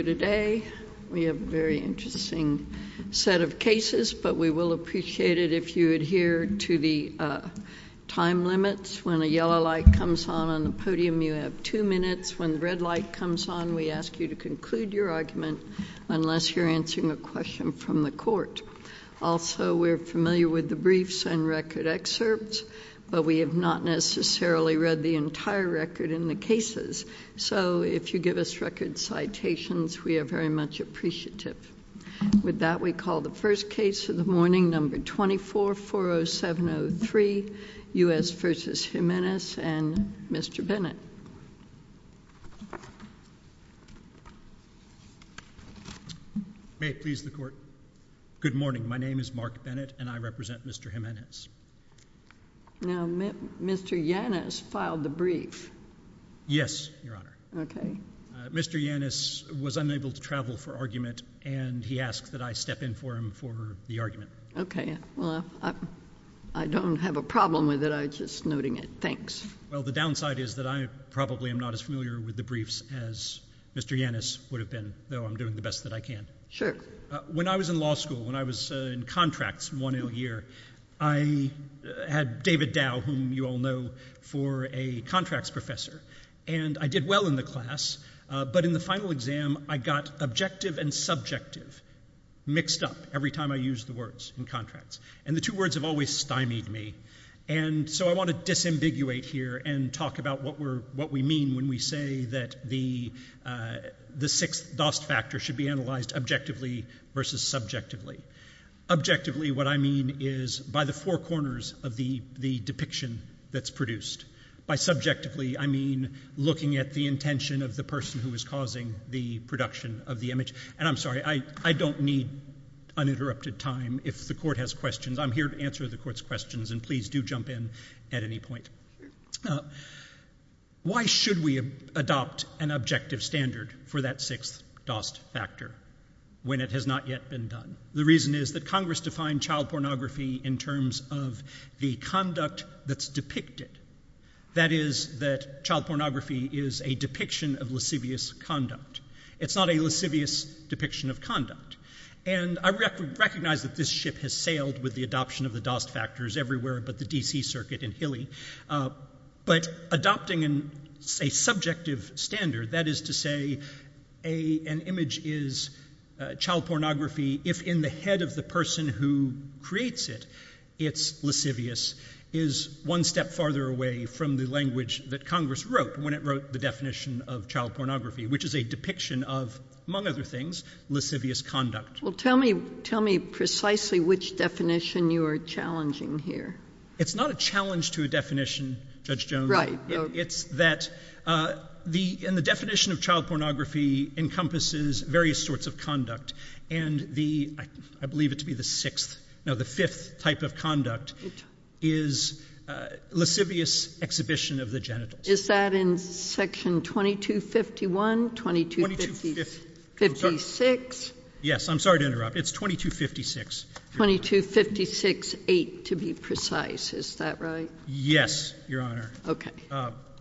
We have a very interesting set of cases, but we will appreciate it if you adhere to the time limits. When a yellow light comes on on the podium, you have two minutes. When the red light comes on, we ask you to conclude your argument unless you're answering a question from the court. Also, we're familiar with the briefs and record excerpts, but we have not necessarily read the entire record in the cases. So if you give us record citations we are very much appreciative. With that, we call the first case of the morning, number 24-40703, U.S. v. Jimenez and Mr. Bennett. May it please the court. Good morning. My name is Mark Bennett and I represent Mr. Jimenez. Now, Mr. Yanis filed the brief. Yes, Your Honor. Okay. Mr. Yanis was unable to travel for argument and he asked that I step in for him for the argument. Okay. Well, I don't have a problem with it. I was just noting it. Thanks. Well, the downside is that I probably am not as familiar with the briefs as Mr. Yanis would have been, though I'm doing the best that I can. When I was in law school, when I was in contracts one year, I had David Dow, whom you all know, for a contracts professor. And I did well in the class, but in the final exam, I got objective and subjective mixed up every time I used the words in contracts. And the two words have always stymied me. And so I want to disambiguate here and talk about what we mean when we say that the sixth dost factor should be analyzed objectively versus subjectively. Objectively, what I mean is by the four corners of the depiction that's produced. By subjectively, I mean looking at the intention of the person who is causing the production of the image. And I'm sorry, I don't need uninterrupted time if the Court has questions. I'm here to answer the Court's questions, and please do jump in at any point. Why should we adopt an objective standard for that sixth dost factor when it has not yet been done? The reason is that Congress defined child pornography in terms of the conduct that's depicted. That is, that child pornography is a depiction of lascivious conduct. It's not a lascivious depiction of conduct. And I recognize that this ship has sailed with the adoption of the dost factors everywhere but the DC circuit in Hilly. But adopting a subjective standard, that is to say, an image is child pornography if in the head of the person who creates it, it's lascivious, is one step farther away from the language that Congress wrote when it wrote the definition of child pornography, which is a depiction of, among other things, lascivious conduct. Well, tell me precisely which definition you are challenging here. It's not a challenge to a definition, Judge Jones. Right. It's that the definition of child pornography encompasses various sorts of conduct. And the, I believe it to be the sixth, no, the fifth type of conduct is lascivious exhibition of the genitals. Is that in section 2251, 2256? Yes. I'm sorry to interrupt. It's 2256. 2256-8 to be precise. Is that right? Yes, Your Honor. Okay.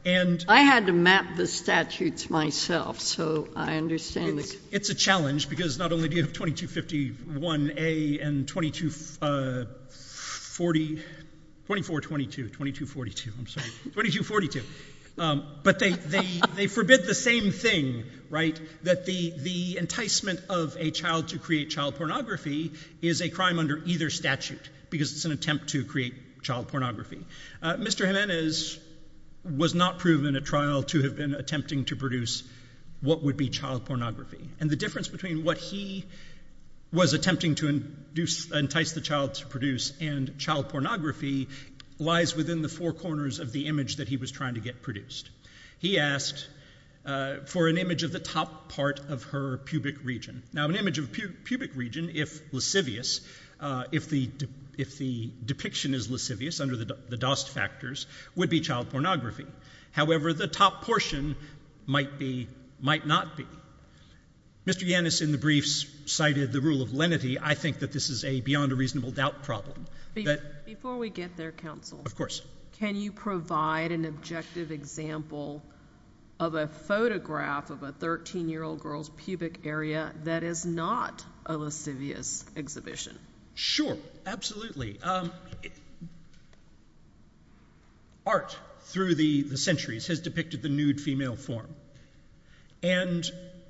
And I had to map the statutes myself, so I understand. It's a challenge because not only do you have 2251-A and 2240, 2422, 2242, I'm sorry, 2242, but they forbid the same thing, right, that the enticement of a child to create child pornography is a crime under either statute because it's an attempt to create child pornography. Mr. Jimenez was not proven at trial to have been attempting to produce what would be child pornography. And the difference between what he was attempting to entice the child to produce and child pornography lies within the four corners of the image that he was trying to get produced. He asked for an image of the top part of her pubic region. Now, an image of pubic region, if lascivious, if the depiction is lascivious under the DOST factors, would be child pornography. However, the top portion might be, might not be. Mr. Jimenez in the briefs cited the rule of lenity. I think that this is a beyond a reasonable doubt problem. Before we get there, Counsel. Of course. Can you provide an objective example of a photograph of a 13-year-old girl's pubic area that is not a lascivious exhibition? Sure, absolutely. Art through the centuries has depicted the nude female form. And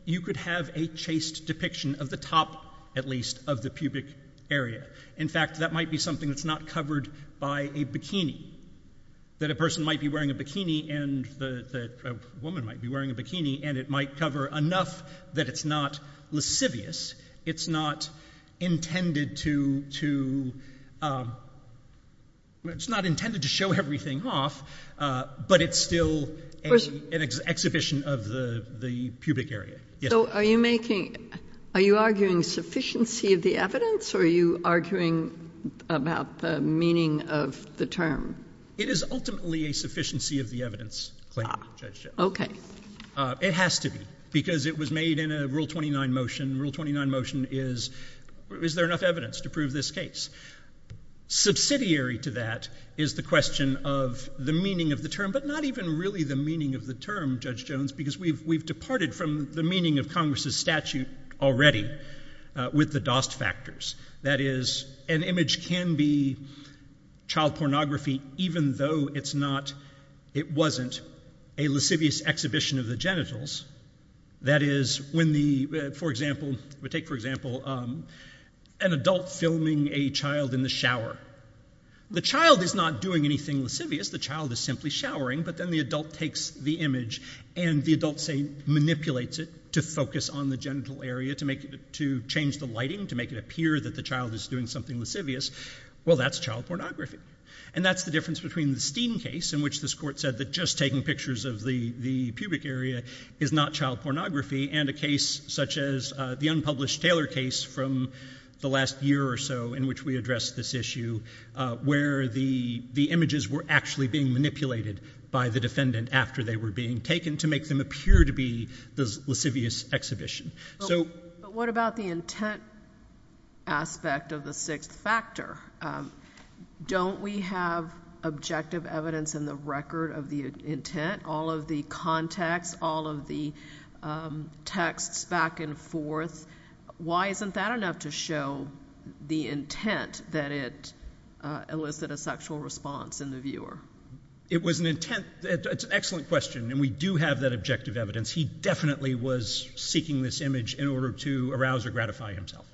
you could have a chaste depiction of the top, at least, of the pubic area. In fact, that might be something that's not covered by a bikini, that a person might be wearing a bikini and the woman might be wearing a bikini and it might cover enough that it's not lascivious, it's not intended to, it's not intended to show everything off, but it's still an exhibition of the pubic area. So are you making, are you arguing sufficiency of the evidence or are you arguing about the meaning of the term? It is ultimately a sufficiency of the evidence claim, Judge Jones. Okay. It has to be, because it was made in a Rule 29 motion. Rule 29 motion is, is there enough evidence to prove this case? Subsidiary to that is the question of the meaning of the term, but not even really the meaning of the term, Judge Jones, because we've departed from the meaning of Congress's statute already with the DOST factors. That is, an image can be child pornography even though it's not, it wasn't a lascivious exhibition of the genitals. That is, when the, for example, we take for example an adult filming a child in the shower. The child is not doing anything lascivious, the child is simply showering, but then the adult takes the image and the adult, say, manipulates it to focus on the genital area, to make it, to change the lighting, to make it appear that the child is doing something lascivious. Well, that's child pornography. And that's the difference between the Steen case, in which this court said that just taking pictures of the, the pubic area is not child pornography, and a case such as the unpublished Taylor case from the last year or so in which we addressed this issue, where the, the images were actually being manipulated by the defendant after they were being taken to make them appear to be the lascivious exhibition. So... But what about the intent aspect of the sixth factor? Don't we have objective evidence in the record of the intent, all of the context, all of the texts back and forth? Why isn't that enough to show the intent that it elicited a sexual response in the viewer? It was an intent, it's an excellent question, and we do have that objective evidence. He definitely was seeking this image in order to arouse or gratify himself.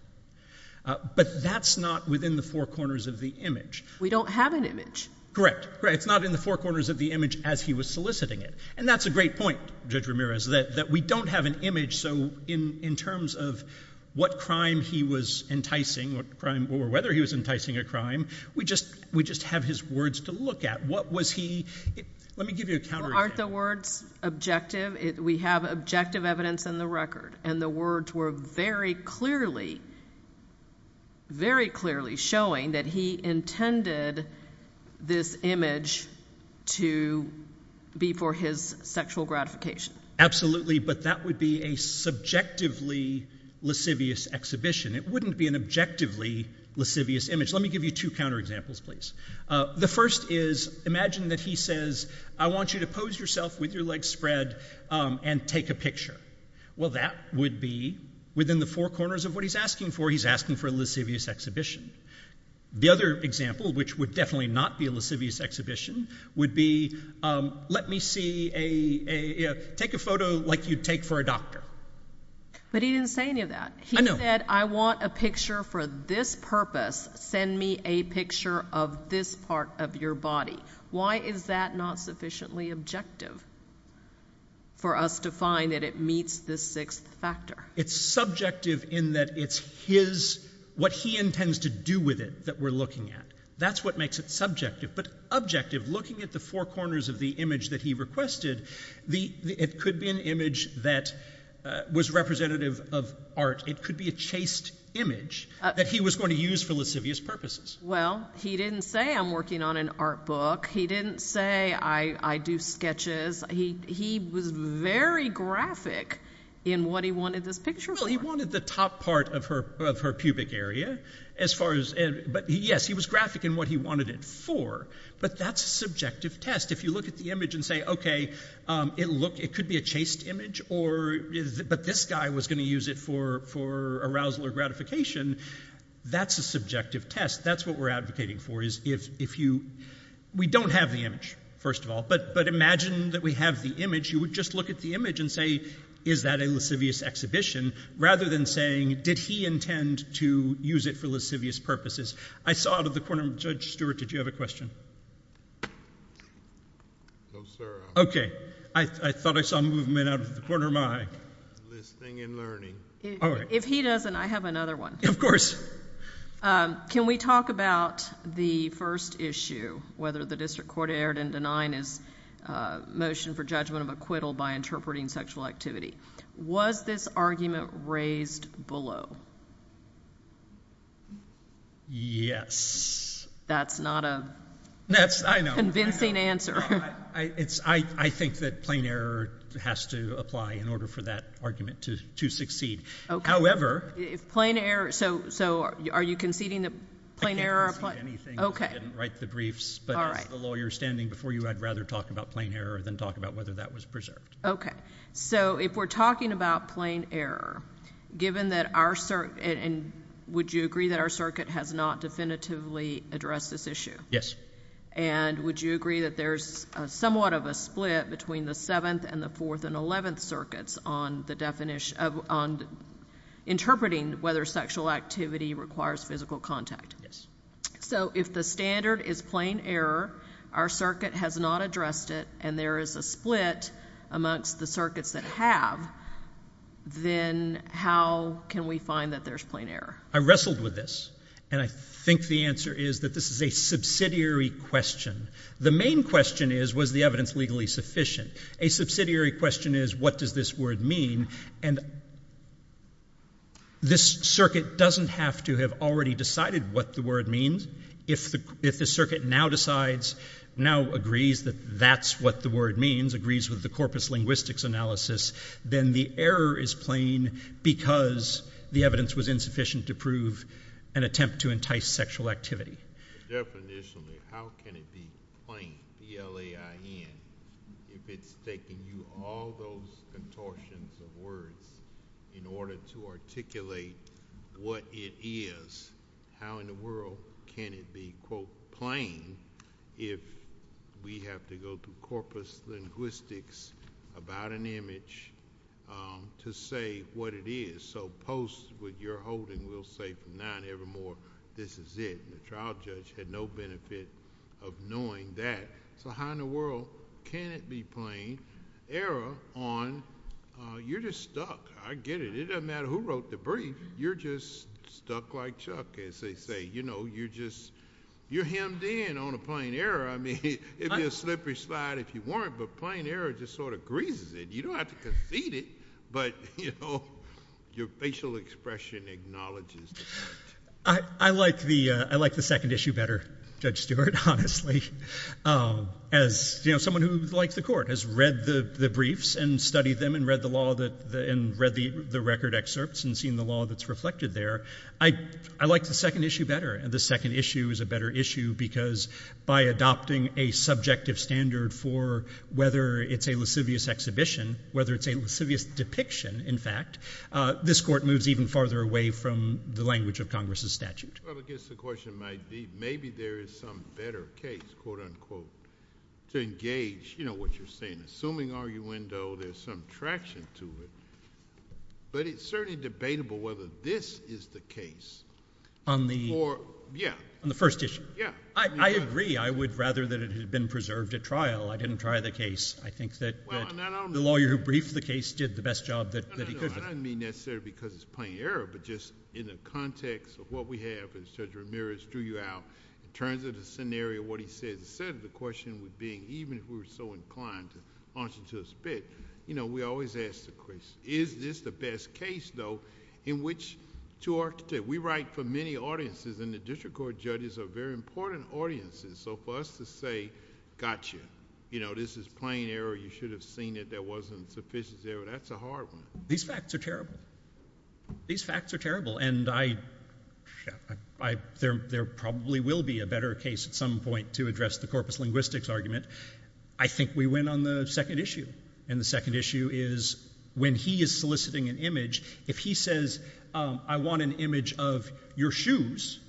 But that's not within the four corners of the image. We don't have an image. Correct, correct. It's not in the four corners of the image as he was soliciting it. And that's a great point, Judge Ramirez, that, that we don't have an image, so in, in terms of what crime he was enticing, what crime, or whether he was enticing a crime, we just, we just have his words to look at. What was he, let me give you a counter... Well, aren't the words objective? We have objective evidence in the record, and the words were very clearly, very clearly showing that he intended this image to be for his sexual gratification. Absolutely, but that would be a subjectively lascivious exhibition. It wouldn't be an objectively lascivious image. Let me give you two counterexamples, please. The first is, imagine that he says, I want you to pose yourself with your legs spread and take a picture. Well, that would be, within the four corners of what he's asking for, he's asking for a lascivious exhibition. The other example, which would definitely not be a lascivious exhibition, would be, let me see a, a, take a photo like you'd take for a doctor. But he didn't say any of that. I know. He said, I want a picture for this purpose. Send me a picture of this part of your body. Why is that not sufficiently objective for us to find that it meets this sixth factor? It's subjective in that it's his, what he intends to do with it that we're looking at. That's what makes it subjective. But objective, looking at the four corners of the image that he requested, the, it could be an image that was representative of art. It could be a chased image that he was going to use for lascivious purposes. Well, he didn't say I'm working on an art book. He didn't say I, I do sketches. He, he was very graphic in what he wanted this picture for. Well, he wanted the top part of her, of her pubic area as far as, but yes, he was graphic in what he wanted it for. But that's a subjective test. If you look at the image and say, okay, it look, it could be a chased image or, but this guy was going to use it for, for arousal or gratification. That's a subjective test. That's what we're advocating for is if, if you, we don't have the image, first of all, but, but imagine that we have the image, you would just look at the image and say, is that a lascivious exhibition? Rather than saying, did he intend to use it for lascivious purposes? I saw out of the corner, Judge Stewart, did you have a question? No, sir. Okay. I, I thought I saw movement out of the corner of my eye. Listing and learning. All right. If he doesn't, I have another one. Of course. Can we talk about the first issue, whether the district court erred in denying his motion for judgment of acquittal by interpreting sexual activity. Was this argument raised below? Yes. That's not a, that's, I know. Convincing answer. I, it's, I, I think that plain error has to apply in order for that argument to, to succeed. Okay. However. If plain error, so, so are you conceding that plain error applied? I can't concede anything because I didn't write the briefs, but as the lawyer standing before you, I'd rather talk about plain error than talk about whether that was preserved. Okay. So if we're talking about plain error, given that our circuit, and would you agree that our circuit has not definitively addressed this issue? Yes. And would you agree that there's somewhat of a split between the 7th and the 4th and 11th circuits on the definition of, on interpreting whether sexual activity requires physical contact? Yes. So if the standard is plain error, our circuit has not addressed it, and there is a split amongst the circuits that have, then how can we find that there's plain error? I wrestled with this, and I think the answer is that this is a subsidiary question. The main question is, was the evidence legally sufficient? A subsidiary question is, what does this word mean? And this circuit doesn't have to have already decided what the word means. If the circuit now decides, now agrees that that's what the word means, agrees with the corpus linguistics analysis, then the error is plain because the evidence was insufficient to prove an attempt to entice sexual activity. Definitionally, how can it be plain, P-L-A-I-N, if it's taking you all those contortions of words in order to articulate what it is? How in the world can it be, quote, plain if we have to go through corpus linguistics about an image to say what it is? So post what you're holding, we'll say from now and evermore, this is it. And the trial judge had no benefit of knowing that. So how in the world can it be plain error on, you're just stuck. I get it. It doesn't matter who wrote the brief. You're just stuck like Chuck, as they say. You know, you're just, you're hemmed in on a plain error. I mean, it'd be a slippery slide if you weren't, but plain error just sort of greases it. You don't have to concede it, but, you know, your facial expression acknowledges the fact. I like the second issue better, Judge Stewart, honestly. As someone who likes the court, has read the briefs and studied them and read the record excerpts and seen the law that's reflected there, I like the second issue better. And the second issue is a better issue because by adopting a subjective standard for whether it's a lascivious exhibition, whether it's a lascivious depiction, in fact, this court moves even farther away from the language of Congress's statute. Well, I guess the question might be, maybe there is some better case, quote unquote, to engage, you know, what you're saying, assuming arguendo there's some traction to it. But it's certainly debatable whether this is the case. On the... Or, yeah. On the first issue. Yeah. I agree. I would rather that it had been preserved at trial. I didn't try the case. I think that the lawyer who briefed the case did the best job that he could. I don't mean necessarily because it's plain error, but just in the context of what we have, as Judge Ramirez threw you out, in terms of the scenario, what he said, the question would be, even if we were so inclined to launch into a spit, you know, we always ask the question, is this the best case, though, in which to argue? We write for many audiences, and the district court judges are very important audiences, so for us to say, gotcha, you know, this is plain error, you should have seen it, that wasn't sufficient error, that's a hard one. These facts are terrible. These facts are terrible, and I... There probably will be a better case at some point to address the corpus linguistics argument. I think we win on the second issue, and the second issue is when he is soliciting an image, if he says, I want an image of your shoes,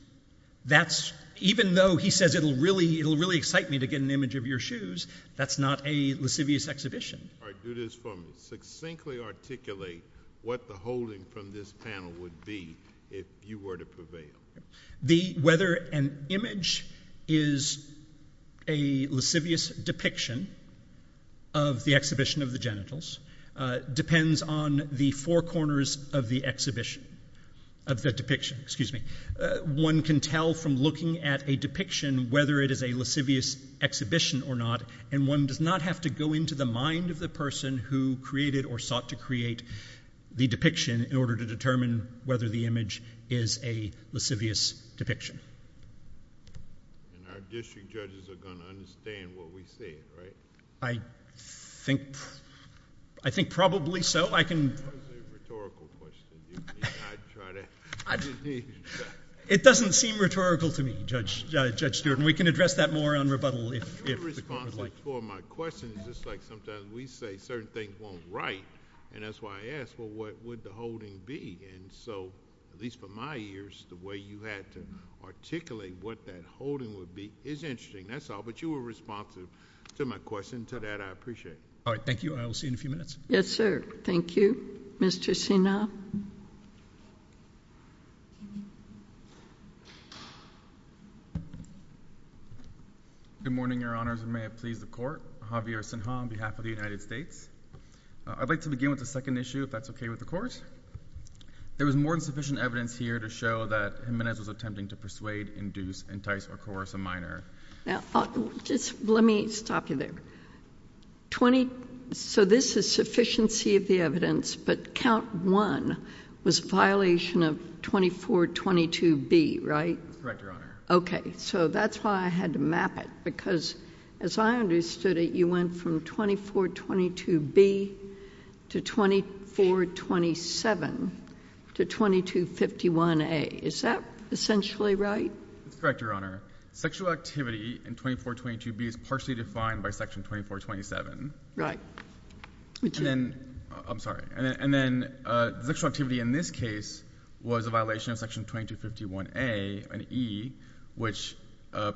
that's, even though he says it'll really excite me to get an image of your shoes, that's not a lascivious exhibition. Do this for me. Succinctly articulate what the holding from this panel would be if you were to prevail. Whether an image is a lascivious depiction of the exhibition of the genitals depends on the four corners of the exhibition, of the depiction, excuse me. One can tell from looking at a depiction whether it is a lascivious exhibition or not, and one does not have to go into the mind of the person who created or sought to create the depiction in order to determine whether the image is a lascivious depiction. And our district judges are going to understand what we say, right? I think probably so. I can... That was a rhetorical question. It doesn't seem rhetorical to me, Judge Stewart, and we can address that more on rebuttal if the court would like. You were responsive to my question. It's just like sometimes we say certain things weren't right, and that's why I asked, well, what would the holding be? And so, at least for my ears, the way you had to articulate what that holding would be is interesting, that's all, but you were responsive to my question. To that, I appreciate it. All right, thank you. I'll see you in a few minutes. Yes, sir. Thank you. Thank you, Mr. Sina. Good morning, Your Honors, and may it please the Court. Javier Sinha on behalf of the United States. I'd like to begin with the second issue, if that's okay with the Court. There was more than sufficient evidence here to show that Jimenez was attempting to persuade, induce, entice, or coerce a minor. Now, just let me stop you there. So this is sufficiency of the evidence, but count one was a violation of 2422B, right? That's correct, Your Honor. Okay, so that's why I had to map it, because as I understood it, you went from 2422B to 2427 to 2251A. Is that essentially right? That's correct, Your Honor. Sexual activity in 2422B is partially defined by Section 2427. Right. I'm sorry. And then sexual activity in this case was a violation of Section 2251A and E, which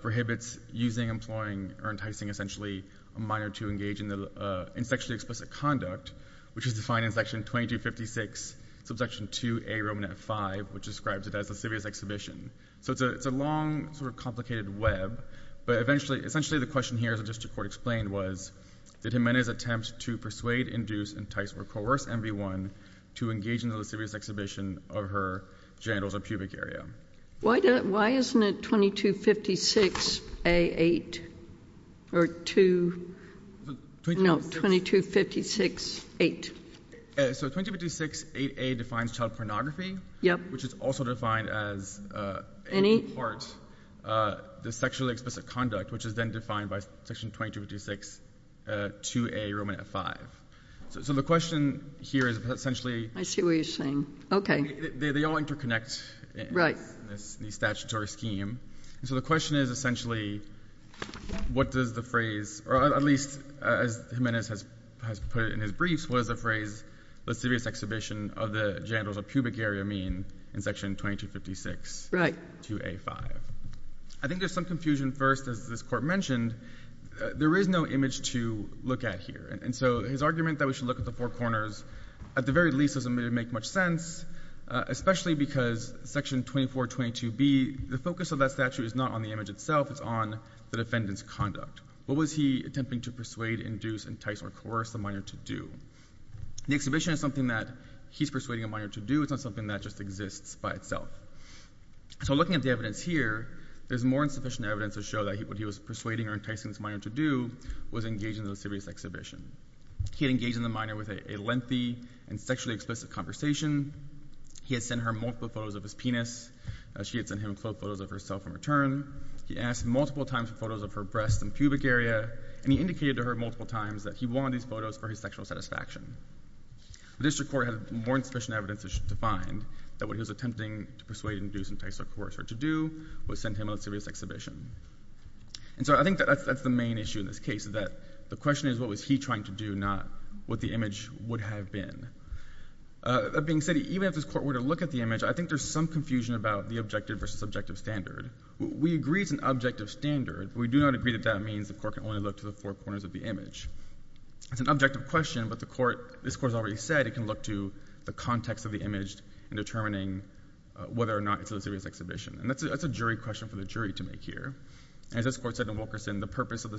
prohibits using, employing, or enticing, essentially, a minor to engage in sexually explicit conduct, which is defined in Section 2256, subsection 2A, Roman F-5, which describes it as lascivious exhibition. So it's a long, sort of complicated web, but essentially the question here, as the district court explained, was did Jimenez attempt to persuade, induce, entice, or coerce MV1 to engage in the lascivious exhibition of her genitals or pubic area? Why isn't it 2256A, 8, or 2? No, 2256, 8. So 2256, 8A defines child pornography, which is also defined as in part the sexually explicit conduct, which is then defined by Section 2256, 2A, Roman F-5. So the question here is essentially they all interconnect in the statutory scheme. So the question is essentially what does the phrase, or at least as Jimenez has put it in his briefs, what does the phrase lascivious exhibition of the genitals or pubic area mean in Section 2256, 2A, 5? I think there's some confusion first, as this Court mentioned. There is no image to look at here, and so his argument that we should look at the four corners at the very least doesn't really make much sense, especially because Section 2422B, the focus of that statute is not on the image itself. It's on the defendant's conduct. What was he attempting to persuade, induce, entice, or coerce the minor to do? The exhibition is something that he's persuading a minor to do. It's not something that just exists by itself. So looking at the evidence here, there's more insufficient evidence to show that what he was persuading or enticing this minor to do was engaging in a lascivious exhibition. He had engaged in the minor with a lengthy and sexually explicit conversation. He had sent her multiple photos of his penis. She had sent him photos of herself in return. He asked multiple times for photos of her breasts and pubic area, and he indicated to her multiple times that he wanted these photos for his sexual satisfaction. The district court had more insufficient evidence to find that what he was attempting to persuade, induce, entice, or coerce her to do was send him a lascivious exhibition. And so I think that's the main issue in this case, that the question is what was he trying to do, not what the image would have been. That being said, even if this Court were to look at the image, I think there's some confusion about the objective versus subjective standard. We agree it's an objective standard. We do not agree that that means the Court can only look to the four corners of the image. It's an objective question, but this Court has already said it can look to the context of the image in determining whether or not it's a lascivious exhibition. And that's a jury question for the jury to make here. As this Court said in Wilkerson, the purpose of the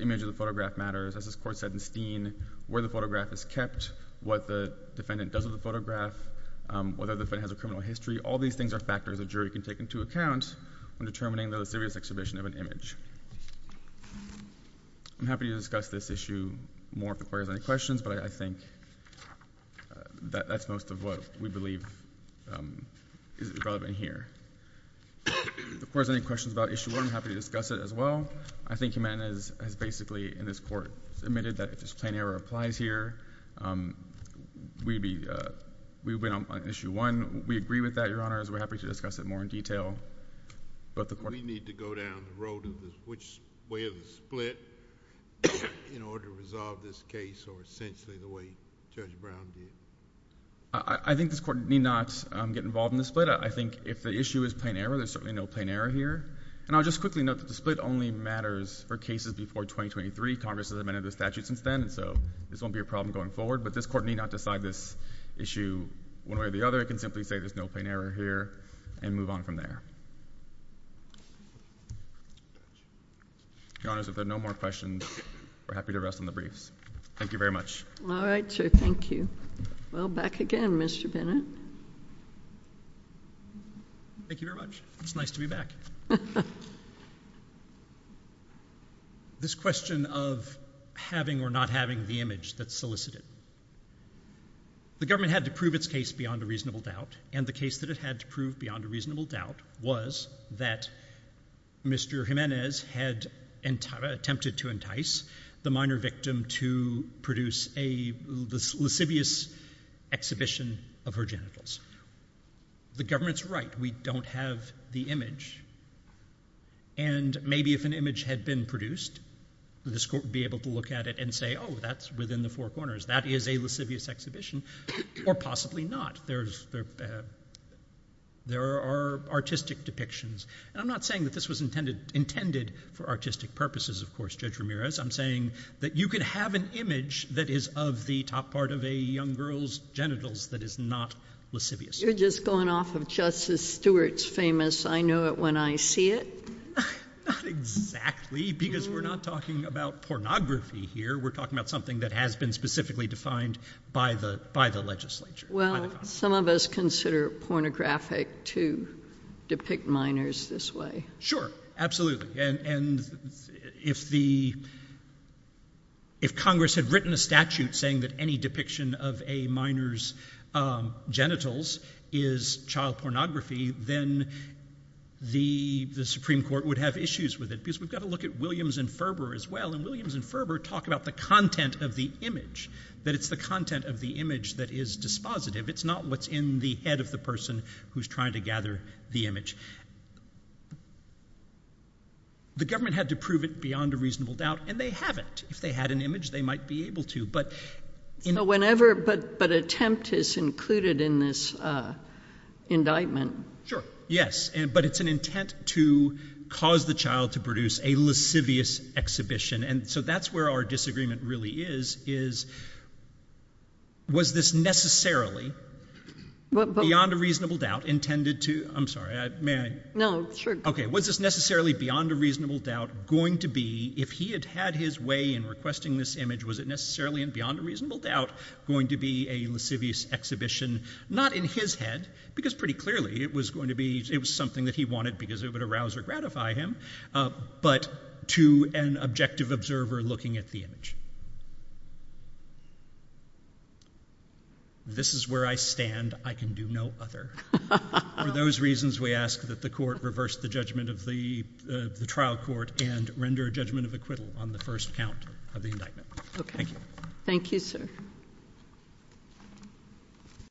image of the photograph matters. As this Court said in Steen, where the photograph is kept, what the defendant does with the photograph, whether the defendant has a criminal history, all these things are factors a jury can take into account when determining the lascivious exhibition of an image. I'm happy to discuss this issue more if the Court has any questions, but I think that's most of what we believe is relevant here. If the Court has any questions about Issue 1, I'm happy to discuss it as well. I think Humana has basically, in this Court, admitted that if this plain error applies here, we would be on Issue 1. We agree with that, Your Honor, as we're happy to discuss it more in detail. We need to go down the road of which way of the split in order to resolve this case or essentially the way Judge Brown did. I think this Court need not get involved in the split. I think if the issue is plain error, there's certainly no plain error here. And I'll just quickly note that the split only matters for cases before 2023. Congress has amended the statute since then, so this won't be a problem going forward. But this Court need not decide this issue one way or the other. It can simply say there's no plain error here and move on from there. Your Honors, if there are no more questions, we're happy to rest on the briefs. Thank you very much. All right, sir, thank you. Well, back again, Mr. Bennett. Thank you very much. It's nice to be back. This question of having or not having the image that's solicited, the government had to prove its case beyond a reasonable doubt, and the case that it had to prove beyond a reasonable doubt was that Mr. Jimenez had attempted to entice the minor victim to produce a lascivious exhibition of her genitals. The government's right. We don't have the image. And maybe if an image had been produced, this Court would be able to look at it and say, oh, that's within the four corners. That is a lascivious exhibition. Or possibly not. There are artistic depictions. And I'm not saying that this was intended for artistic purposes, of course, Judge Ramirez. I'm saying that you could have an image that is of the top part of a young girl's genitals that is not lascivious. You're just going off of Justice Stewart's famous, I know it when I see it. Not exactly, because we're not talking about pornography here. We're talking about something that has been specifically defined by the legislature. Well, some of us consider it pornographic to depict minors this way. Sure, absolutely. And if Congress had written a statute saying that any depiction of a minor's genitals is child pornography, then the Supreme Court would have issues with it. Because we've got to look at Williams and Ferber as well. And Williams and Ferber talk about the content of the image, that it's the content of the image that is dispositive. It's not what's in the head of the person who's trying to gather the image. The government had to prove it beyond a reasonable doubt, and they haven't. If they had an image, they might be able to. But attempt is included in this indictment. Sure, yes. But it's an intent to cause the child to produce a lascivious exhibition. And so that's where our disagreement really is. Was this necessarily, beyond a reasonable doubt, intended to... I'm sorry, may I? No, sure. Okay, was this necessarily beyond a reasonable doubt going to be, if he had had his way in requesting this image, was it necessarily and beyond a reasonable doubt going to be a lascivious exhibition, not in his head, because pretty clearly it was something that he wanted because it would arouse or gratify him, but to an objective observer looking at the image? This is where I stand. I can do no other. For those reasons, we ask that the court reverse the judgment of the trial court and render a judgment of acquittal on the first count of the indictment. Okay. Thank you. Thank you, sir.